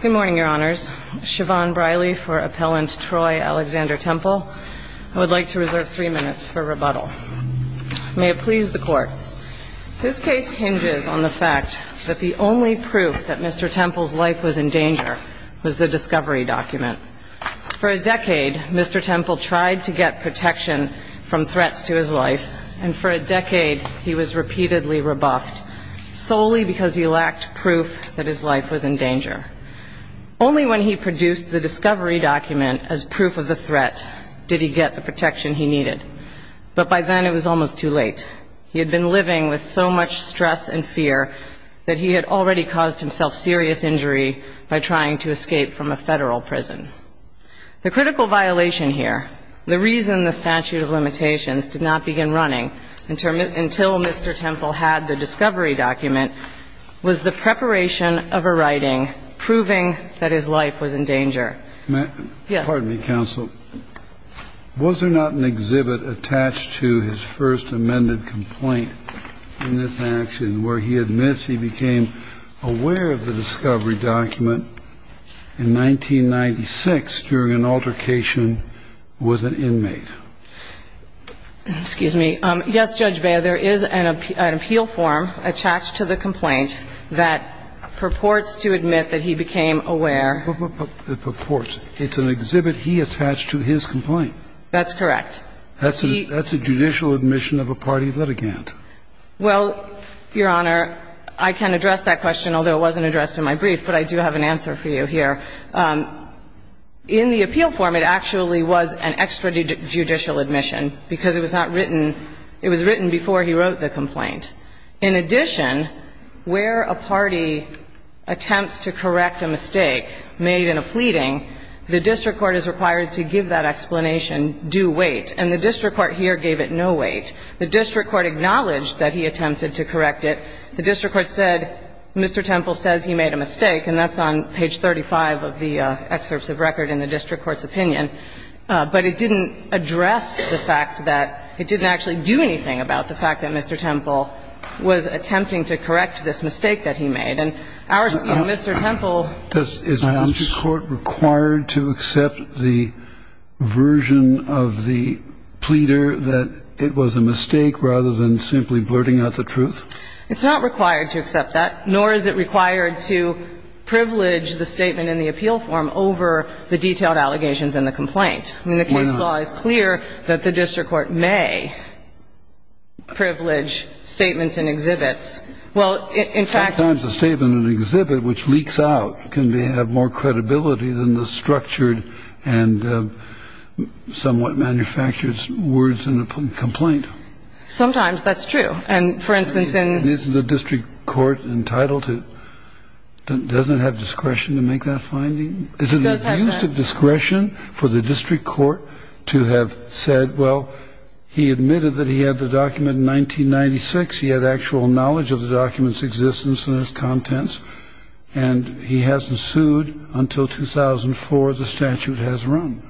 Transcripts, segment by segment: Good morning, your honors. Siobhan Briley for Appellant Troy Alexander Temple. I would like to reserve three minutes for rebuttal. May it please the court. This case hinges on the fact that the only proof that Mr. Temple's life was in danger was the discovery document. For a decade, Mr. Temple tried to get protection from threats to his life, and for a decade, he was repeatedly rebuffed, solely because he lacked proof that his life was in danger. Only when he produced the discovery document as proof of the threat did he get the protection he needed. But by then, it was almost too late. He had been living with so much stress and fear that he had already caused himself serious injury by trying to escape from a federal prison. The critical violation here, the reason the statute of limitations did not begin running until Mr. Temple had the discovery document, was the preparation of a writing proving that his life was in danger. Yes. Pardon me, counsel. Was there not an exhibit attached to his first amended complaint in this action where he admits he became aware of the discovery document in 1996 during an altercation with an inmate? Excuse me. Yes, Judge Beyer, there is an appeal form attached to the complaint that purports to admit that he became aware. It purports. It's an exhibit he attached to his complaint. That's correct. That's a judicial admission of a party litigant. Well, Your Honor, I can address that question, although it wasn't addressed in my brief, but I do have an answer for you here. In the appeal form, it actually was an extrajudicial admission because it was not written It was written before he wrote the complaint. In addition, where a party attempts to correct a mistake made in a pleading, the district court is required to give that explanation due weight, and the district court here gave it no weight. The district court acknowledged that he attempted to correct it. The district court said Mr. Temple says he made a mistake, and that's on page 35 of the excerpts of record in the district court's opinion. But it didn't address the fact that it didn't actually do anything about the fact that Mr. Temple was attempting to correct this mistake that he made. And our scheme, Mr. Temple Is the district court required to accept the version of the pleader that it was a mistake rather than simply blurting out the truth? It's not required to accept that, nor is it required to privilege the statement in the appeal form over the detailed allegations in the complaint. I mean, the case law is clear that the district court may privilege statements and exhibits. Well, in fact Sometimes a statement and exhibit which leaks out can have more credibility than the structured and somewhat manufactured words in the complaint. Sometimes, that's true. And, for instance, in Is the district court entitled to, doesn't it have discretion to make that finding? Does it use the discretion for the district court to have said, well, he admitted that he had the document in 1996, he had actual knowledge of the document's existence and its contents, and he hasn't sued until 2004, the statute has run?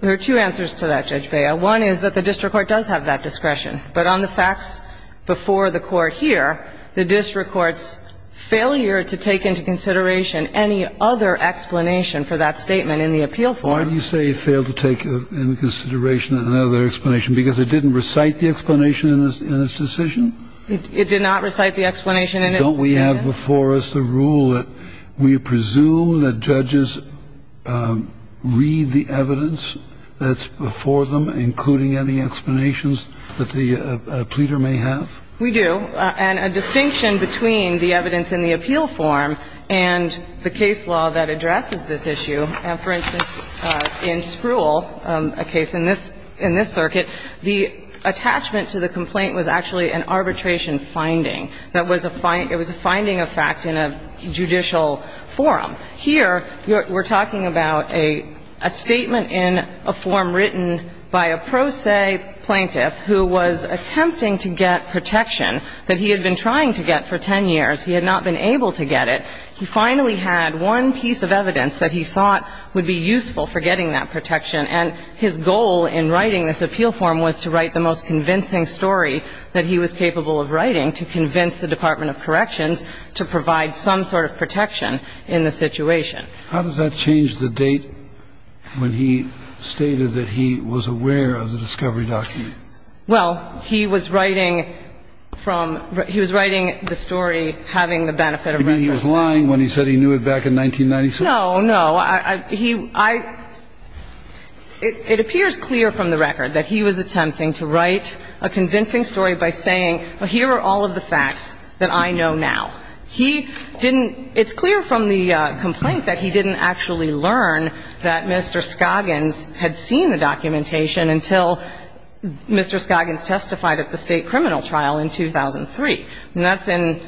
There are two answers to that, Judge Bea. One is that the district court does have that discretion. But on the facts before the court here, the district court's failure to take into consideration any other explanation for that statement in the appeal form Why do you say it failed to take into consideration another explanation? Because it didn't recite the explanation in its decision? It did not recite the explanation in its decision. Don't we have before us the rule that we presume that judges read the evidence that's before them, including any explanations that the pleader may have? We do. And a distinction between the evidence in the appeal form and the case law that addresses this issue, for instance, in Spruill, a case in this circuit, the attachment to the complaint was actually an arbitration finding. It was a finding of fact in a judicial forum. Here we're talking about a statement in a form written by a pro se plaintiff who was attempting to get protection that he had been trying to get for 10 years. He had not been able to get it. He finally had one piece of evidence that he thought would be useful for getting that protection. And his goal in writing this appeal form was to write the most convincing story that he was capable of writing to convince the Department of Corrections to provide some sort of protection in the situation. How does that change the date when he stated that he was aware of the discovery document? Well, he was writing from he was writing the story having the benefit of reference And he was not lying when he said he knew it back in 1996. No, no. He – I – it appears clear from the record that he was attempting to write a convincing story by saying, well, here are all of the facts that I know now. He didn't – it's clear from the complaint that he didn't actually learn that Mr. Scoggins testified at the state criminal trial in 2003. And that's in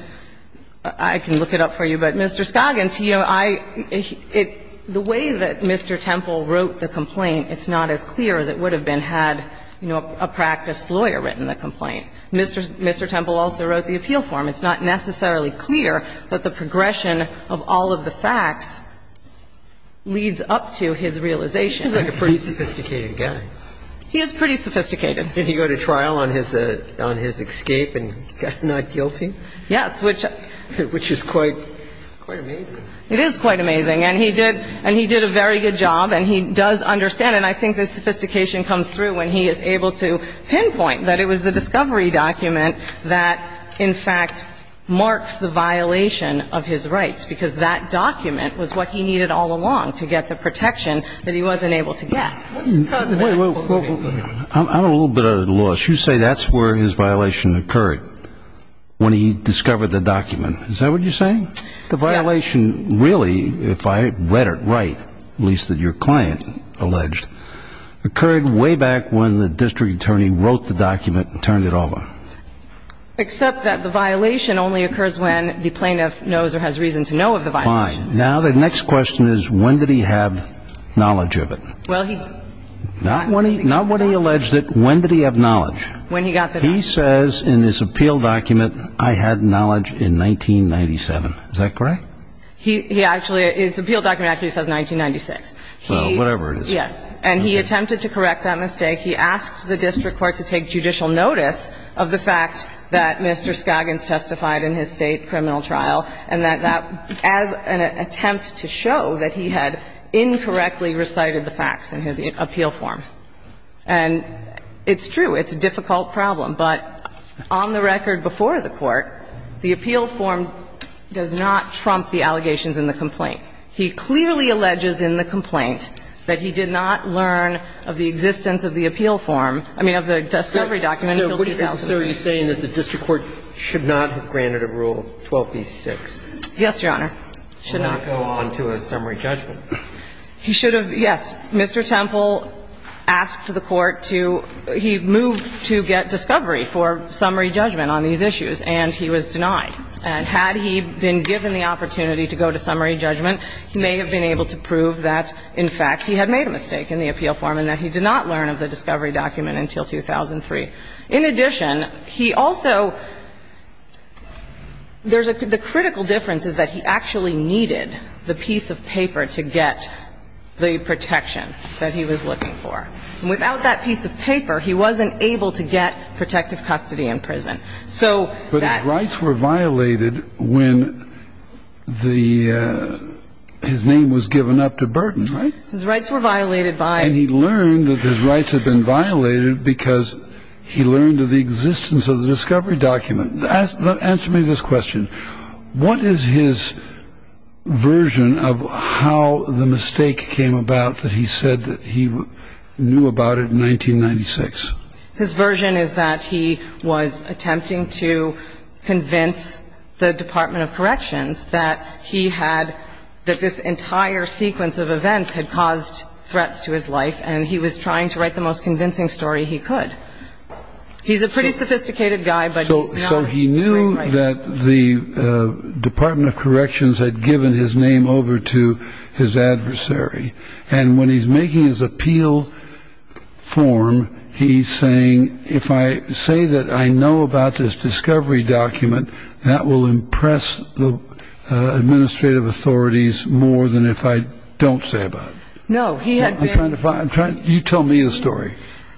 – I can look it up for you, but Mr. Scoggins, you know, I – it – the way that Mr. Temple wrote the complaint, it's not as clear as it would have been had, you know, a practiced lawyer written the complaint. Mr. Temple also wrote the appeal form. It's not necessarily clear that the progression of all of the facts leads up to his realization. He seems like a pretty sophisticated guy. He is pretty sophisticated. Did he go to trial on his escape and not guilty? Yes. Which is quite amazing. It is quite amazing. And he did a very good job, and he does understand. And I think the sophistication comes through when he is able to pinpoint that it was the discovery document that, in fact, marks the violation of his rights, because that document was what he needed all along to get the protection that he wasn't able to get. I'm a little bit at a loss. You say that's where his violation occurred, when he discovered the document. Is that what you're saying? Yes. The violation really, if I read it right, at least that your client alleged, occurred way back when the district attorney wrote the document and turned it over. Except that the violation only occurs when the plaintiff knows or has reason to know of the violation. Fine. Now, the next question is, when did he have knowledge of it? Not when he alleged it. When did he have knowledge? When he got the document. He says in his appeal document, I had knowledge in 1997. Is that correct? His appeal document actually says 1996. Well, whatever it is. Yes. And he attempted to correct that mistake. He asked the district court to take judicial notice of the fact that Mr. Skagans testified in his state criminal trial, and that as an attempt to show that he had incorrectly recited the facts in his appeal form. And it's true. It's a difficult problem. But on the record before the Court, the appeal form does not trump the allegations in the complaint. He clearly alleges in the complaint that he did not learn of the existence of the appeal form, I mean, of the discovery document until 2003. So are you saying that the district court should not have granted a Rule 12b-6? Yes, Your Honor. Should not. Should not go on to a summary judgment. He should have, yes. Mr. Temple asked the Court to he moved to get discovery for summary judgment on these issues, and he was denied. And had he been given the opportunity to go to summary judgment, he may have been able to prove that, in fact, he had made a mistake in the appeal form and that he did not learn of the discovery document until 2003. In addition, he also – there's a – the critical difference is that he actually needed the piece of paper to get the protection that he was looking for. And without that piece of paper, he wasn't able to get protective custody in prison. So that – But his rights were violated when the – his name was given up to Burton, right? His rights were violated by – And he learned that his rights had been violated because he learned of the existence of the discovery document. Answer me this question. What is his version of how the mistake came about that he said that he knew about it in 1996? His version is that he was attempting to convince the Department of Corrections that he had – that he had the discovery document. And he was trying to write the most convincing story he could. He's a pretty sophisticated guy, but he's not a great writer. So he knew that the Department of Corrections had given his name over to his adversary. And when he's making his appeal form, he's saying, if I say that I know about this discovery document, that will impress the administrative authorities more than if I don't say about it. No, he had been – I'm trying to find – you tell me the story.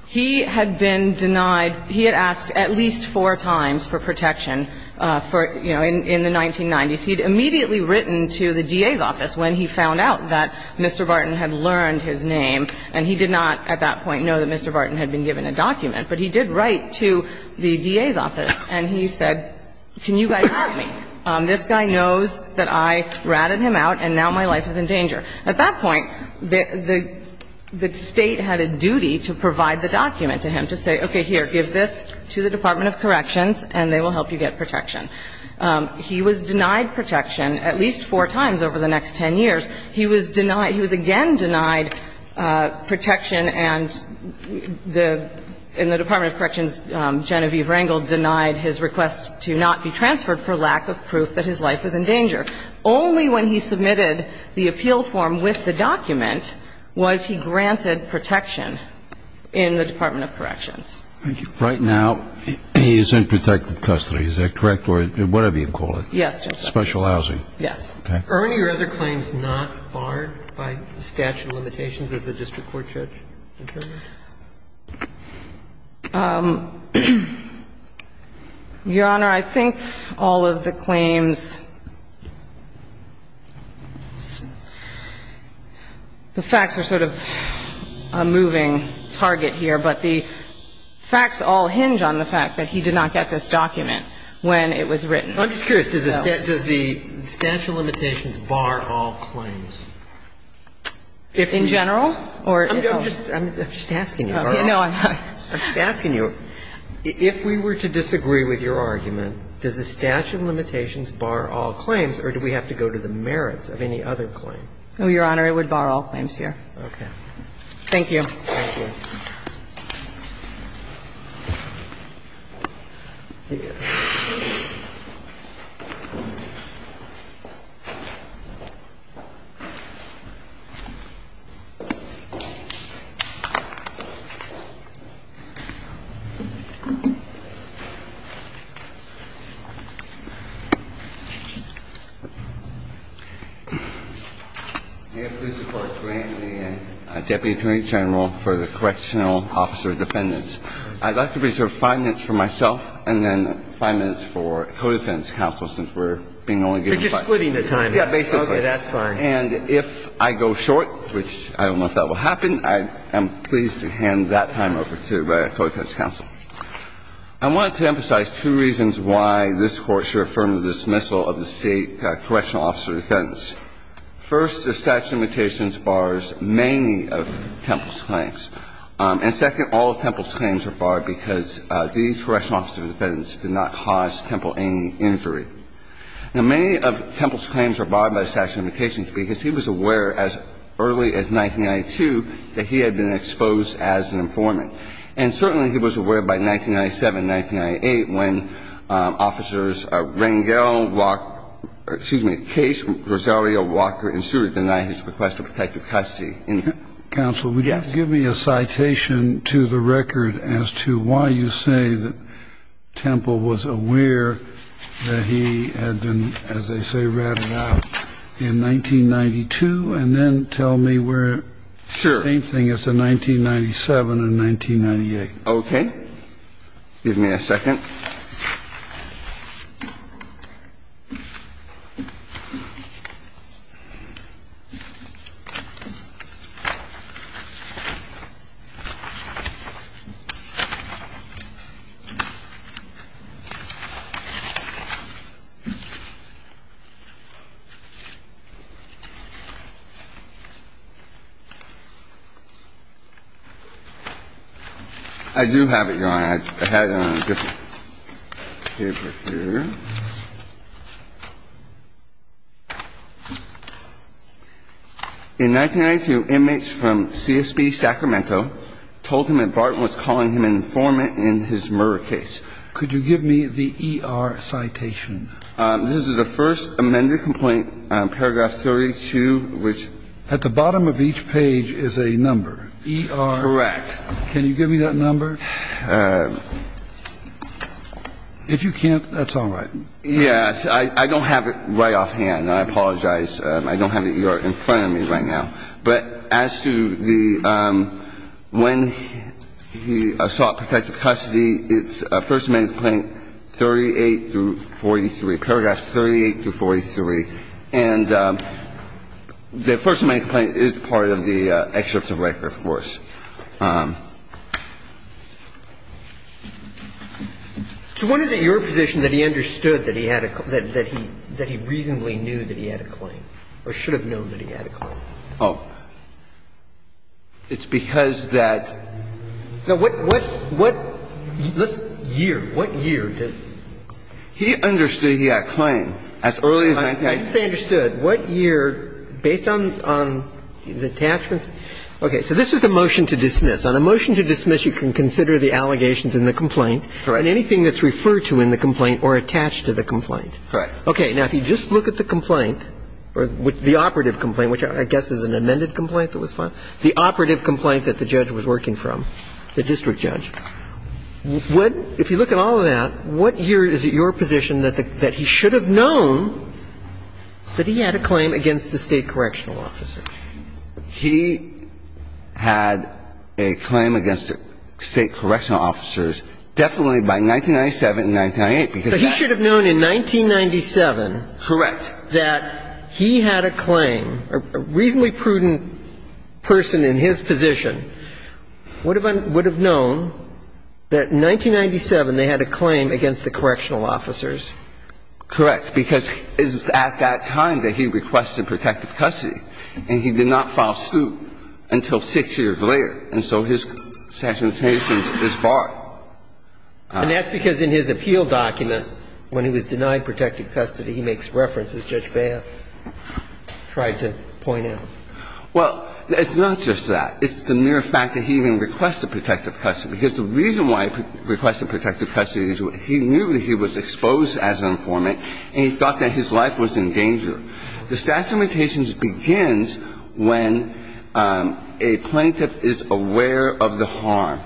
He had been denied – he had asked at least four times for protection for, you know, in the 1990s. He'd immediately written to the DA's office when he found out that Mr. Burton had learned his name. And he did not at that point know that Mr. Burton had been given a document. But he did write to the DA's office, and he said, can you guys help me? This guy knows that I ratted him out, and now my life is in danger. At that point, the State had a duty to provide the document to him to say, okay, here, give this to the Department of Corrections, and they will help you get protection. He was denied protection at least four times over the next 10 years. He was denied – he was again denied protection, and the – in the Department of Corrections, Genevieve Rangel denied his request to not be transferred for lack of proof that his life was in danger. Only when he submitted the appeal form with the document was he granted protection in the Department of Corrections. Thank you. Right now, he is in protected custody. Is that correct? Or whatever you call it. Yes. Special housing. Yes. Okay. Are any of your other claims not barred by statute of limitations as the district court judge determined? Your Honor, I think all of the claims – the facts are sort of a moving target here, but the facts all hinge on the fact that he did not get this document when it was written. I'm just curious, does the statute of limitations bar all claims? In general? I'm just asking you. No, I'm not. I'm just asking you, if we were to disagree with your argument, does the statute of limitations bar all claims, or do we have to go to the merits of any other claim? Your Honor, it would bar all claims here. Okay. Thank you. Thank you. Thank you. Thank you. We're just splitting the time. Yeah, basically. Okay, that's fine. And if I go short, which I don't know if that will happen, I'm pleased to hand that time over to code defendants counsel. I want to emphasize two reasons why this Court should affirm the dismissal of the State correctional officer defendants. First, the statute of limitations bars many of Temple's claims. And second, all of Temple's claims are barred because these correctional officers defendants did not cause Temple any injury. Now, many of Temple's claims are barred by the statute of limitations because he was aware as early as 1992 that he had been exposed as an informant. And certainly he was aware by 1997, 1998, when Officers Rangel, Walker – excuse me, Case, Rosario, Walker, and Stewart denied his request for protective custody. Counsel, would you give me a citation to the record as to why you say that Temple was aware that he had been, as they say, ratted out in 1992? And then tell me where – same thing as to 1997 and 1998. Okay. Give me a second. I do have it, Your Honor. I have it on a different paper here. In 1992, inmates from CSB Sacramento told him that Barton was calling him an informant in his murder case. Could you give me the ER citation? This is the first amended complaint, paragraph 32, which – At the bottom of each page is a number. ER – Correct. Can you give me that number? If you can't, that's all right. Yes. I don't have it right offhand. I apologize. I don't have the ER in front of me right now. But as to the – when he sought protective custody, it's First Amendment complaint 38 through 43, paragraphs 38 through 43. And the First Amendment complaint is part of the excerpts of record, of course. So what is it in your position that he understood that he had a – that he reasonably knew that he had a claim or should have known that he had a claim? Oh. It's because that – Now, what – what – what year? What year did – He understood he had a claim as early as 19 – I didn't say understood. What year, based on the attachments? Okay. So this was a motion to dismiss. On a motion to dismiss, you can consider the allegations in the complaint. Right. And anything that's referred to in the complaint or attached to the complaint. Right. Okay. Now, if you just look at the complaint, the operative complaint, which I guess is an amended complaint that was filed, the operative complaint that the judge was working from, the district judge, what – if you look at all of that, what year is it your position that he should have known that he had a claim against the State correctional officer? He had a claim against the State correctional officers definitely by 1997 and 1998, because that – So he should have known in 1997 – Correct. – that he had a claim. A reasonably prudent person in his position would have known that in 1997 they had a claim against the correctional officers. Correct. Because it was at that time that he requested protective custody. And he did not file suit until six years later. And so his sanctions is barred. And that's because in his appeal document, when he was denied protective custody, he makes reference, as Judge Baer tried to point out. Well, it's not just that. It's the mere fact that he even requested protective custody. Because the reason why he requested protective custody is he knew that he was exposed as an informant, and he thought that his life was in danger. The statute of limitations begins when a plaintiff is aware of the harm.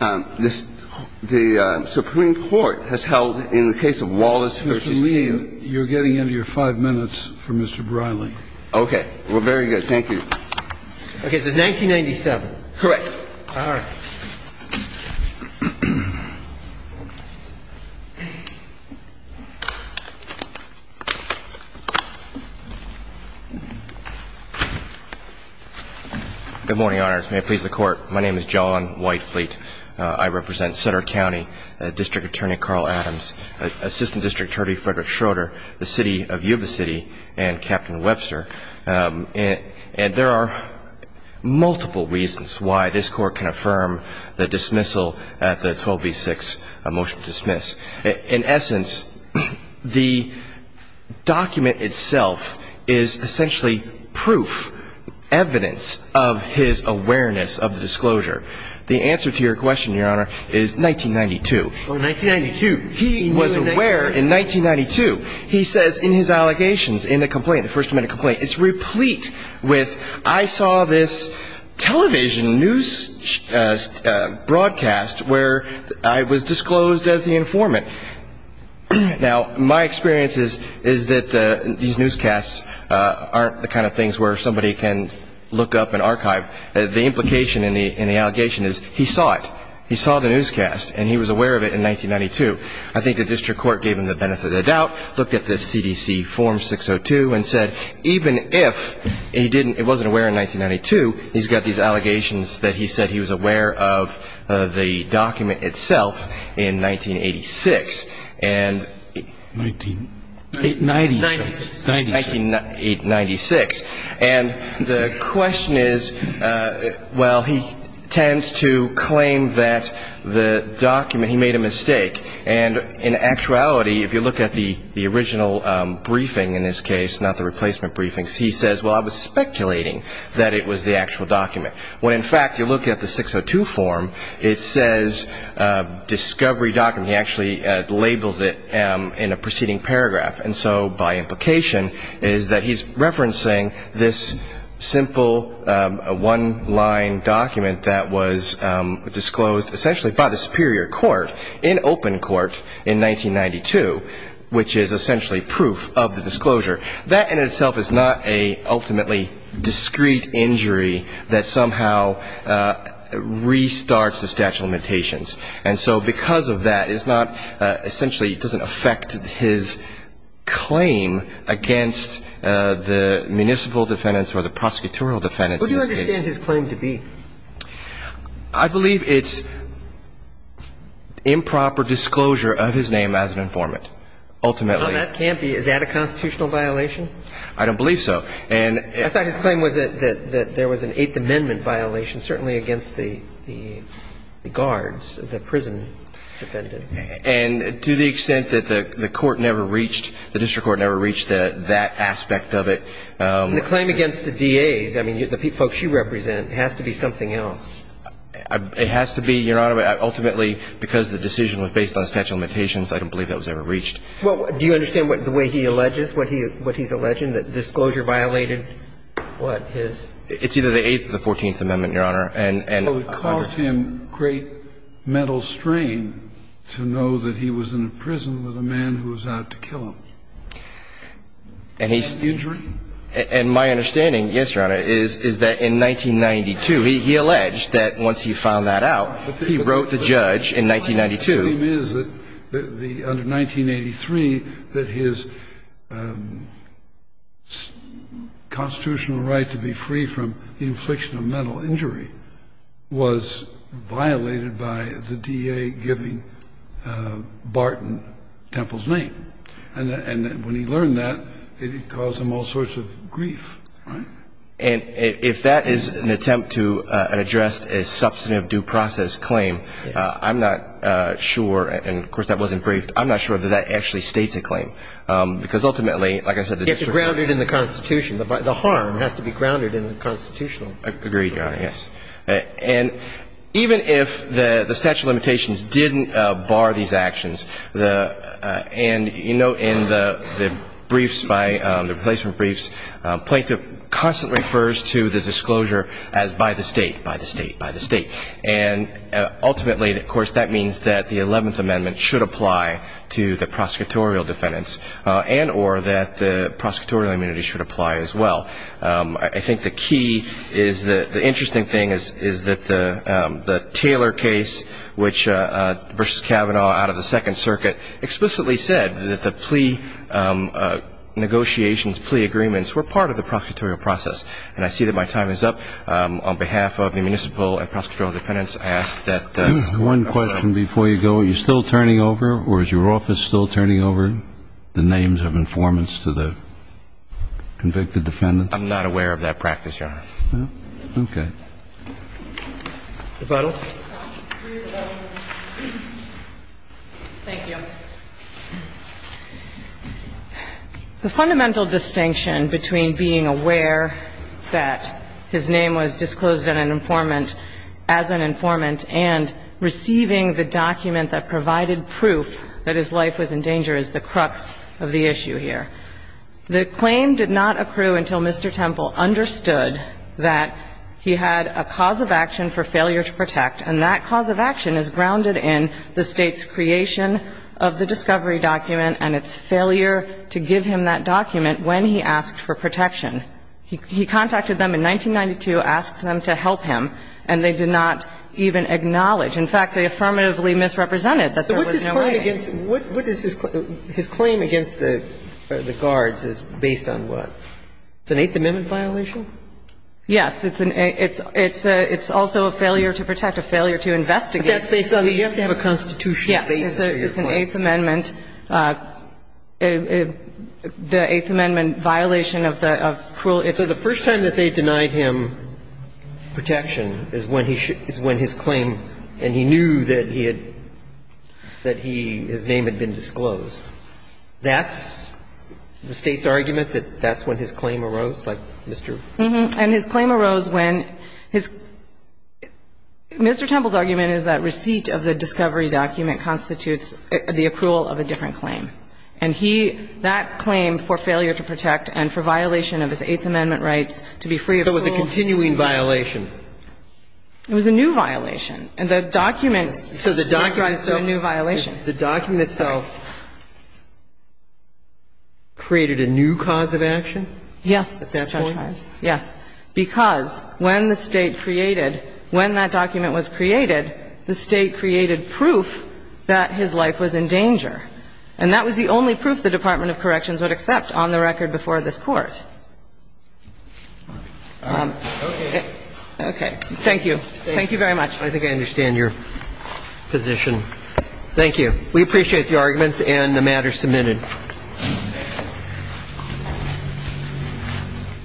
The Supreme Court has held, in the case of Wallace v. – Mr. Lee, you're getting into your five minutes for Mr. Briley. Okay. Well, very good. Okay. So 1997. Correct. All right. Good morning, Your Honors. May it please the Court. My name is John Whitefleet. I represent Sutter County District Attorney Carl Adams, Assistant District Attorney Frederick Schroeder, the City of Yuba City, and Captain Webster. for protective custody was denied. at the 12 v. 6 motion to dismiss. In essence, the document itself is essentially proof, evidence of his awareness of the disclosure. The answer to your question, Your Honor, is 1992. Oh, 1992. He was aware in 1992. He says in his allegations, in the complaint, the First Amendment complaint, I saw this television news broadcast where I was disclosed as the informant. Now, my experience is that these newscasts aren't the kind of things where somebody can look up and archive. The implication in the allegation is he saw it. He saw the newscast, and he was aware of it in 1992. I think the district court gave him the benefit of the doubt, looked at this CDC form 602 and said, even if he wasn't aware in 1992, he's got these allegations that he said he was aware of the document itself in 1986. And 1996. And the question is, well, he tends to claim that the document, he made a mistake. And in actuality, if you look at the original briefing in this case, not the replacement briefings, he says, well, I was speculating that it was the actual document. When, in fact, you look at the 602 form, it says discovery document. He actually labels it in a preceding paragraph. And so by implication is that he's referencing this simple one-line document that was disclosed, essentially, by the superior court in open court in 1992, which is essentially proof of the disclosure. That in itself is not an ultimately discrete injury that somehow restarts the statute of limitations. And so because of that, it's not essentially, it doesn't affect his claim against the municipal defendants or the prosecutorial defendants. Who do you understand his claim to be? I believe it's improper disclosure of his name as an informant, ultimately. Well, that can't be. Is that a constitutional violation? I don't believe so. I thought his claim was that there was an Eighth Amendment violation, certainly against the guards, the prison defendants. And to the extent that the court never reached, the district court never reached that aspect of it. And the claim against the DAs, I mean, the folks you represent, has to be something else. It has to be, Your Honor. Ultimately, because the decision was based on statute of limitations, I don't believe that was ever reached. Well, do you understand the way he alleges, what he's alleging, that disclosure violated, what, his? It's either the Eighth or the Fourteenth Amendment, Your Honor. Well, it caused him great mental strain to know that he was in a prison with a man who was out to kill him. Injury? And my understanding, yes, Your Honor, is that in 1992, he alleged that once he found that out, he wrote the judge in 1992. But the claim is that under 1983, that his constitutional right to be free from the infliction of mental injury was violated by the DA giving Barton Temple's name. And when he learned that, it caused him all sorts of grief, right? And if that is an attempt to address a substantive due process claim, I'm not sure, and of course, that wasn't briefed, I'm not sure that that actually states a claim, because ultimately, like I said, the district court. It's grounded in the Constitution. The harm has to be grounded in the Constitution. Agreed, Your Honor, yes. And even if the statute of limitations didn't bar these actions, and, you know, in the briefs, the replacement briefs, plaintiff constantly refers to the disclosure as by the state, by the state, by the state. And ultimately, of course, that means that the Eleventh Amendment should apply to the prosecutorial defendants and or that the prosecutorial immunity should apply as well. I think the key is that the interesting thing is that the Taylor case, which versus Kavanaugh, out of the Second Circuit, explicitly said that the plea negotiations, plea agreements, were part of the prosecutorial process. And I see that my time is up. On behalf of the municipal and prosecutorial defendants, I ask that. One question before you go. Are you still turning over, or is your office still turning over the names of informants to the convicted defendants? I'm not aware of that practice, Your Honor. Okay. Ms. Buttle. Thank you. The fundamental distinction between being aware that his name was disclosed as an informant and receiving the document that provided proof that his life was in danger is the crux of the issue here. The claim did not accrue until Mr. Temple understood that he had a cause of action for failure to protect. And that cause of action is grounded in the State's creation of the discovery document and its failure to give him that document when he asked for protection. He contacted them in 1992, asked them to help him, and they did not even acknowledge. In fact, they affirmatively misrepresented that there was no way. So what's his claim against the guards is based on what? It's an Eighth Amendment violation? Yes. It's also a failure to protect, a failure to investigate. But that's based on, you have to have a constitutional basis for your claim. It's an Eighth Amendment violation of the rule. So the first time that they denied him protection is when his claim, and he knew that he had, that he, his name had been disclosed. That's the State's argument, that that's when his claim arose, like Mr. And his claim arose when his, Mr. Temple's argument is that receipt of the discovery document constitutes the approval of a different claim. And he, that claim for failure to protect and for violation of his Eighth Amendment rights to be free of rule. So it was a continuing violation? It was a new violation. And the document. So the document itself. It was a new violation. The document itself created a new cause of action? Yes. At that point? Yes. And that was the only proof the Department of Corrections would accept on the record before this Court. Okay. Okay. Thank you. Thank you very much. I think I understand your position. Thank you. Thank you. Thank you. Thank you. Thank you. Thank you. Thank you. Thank you.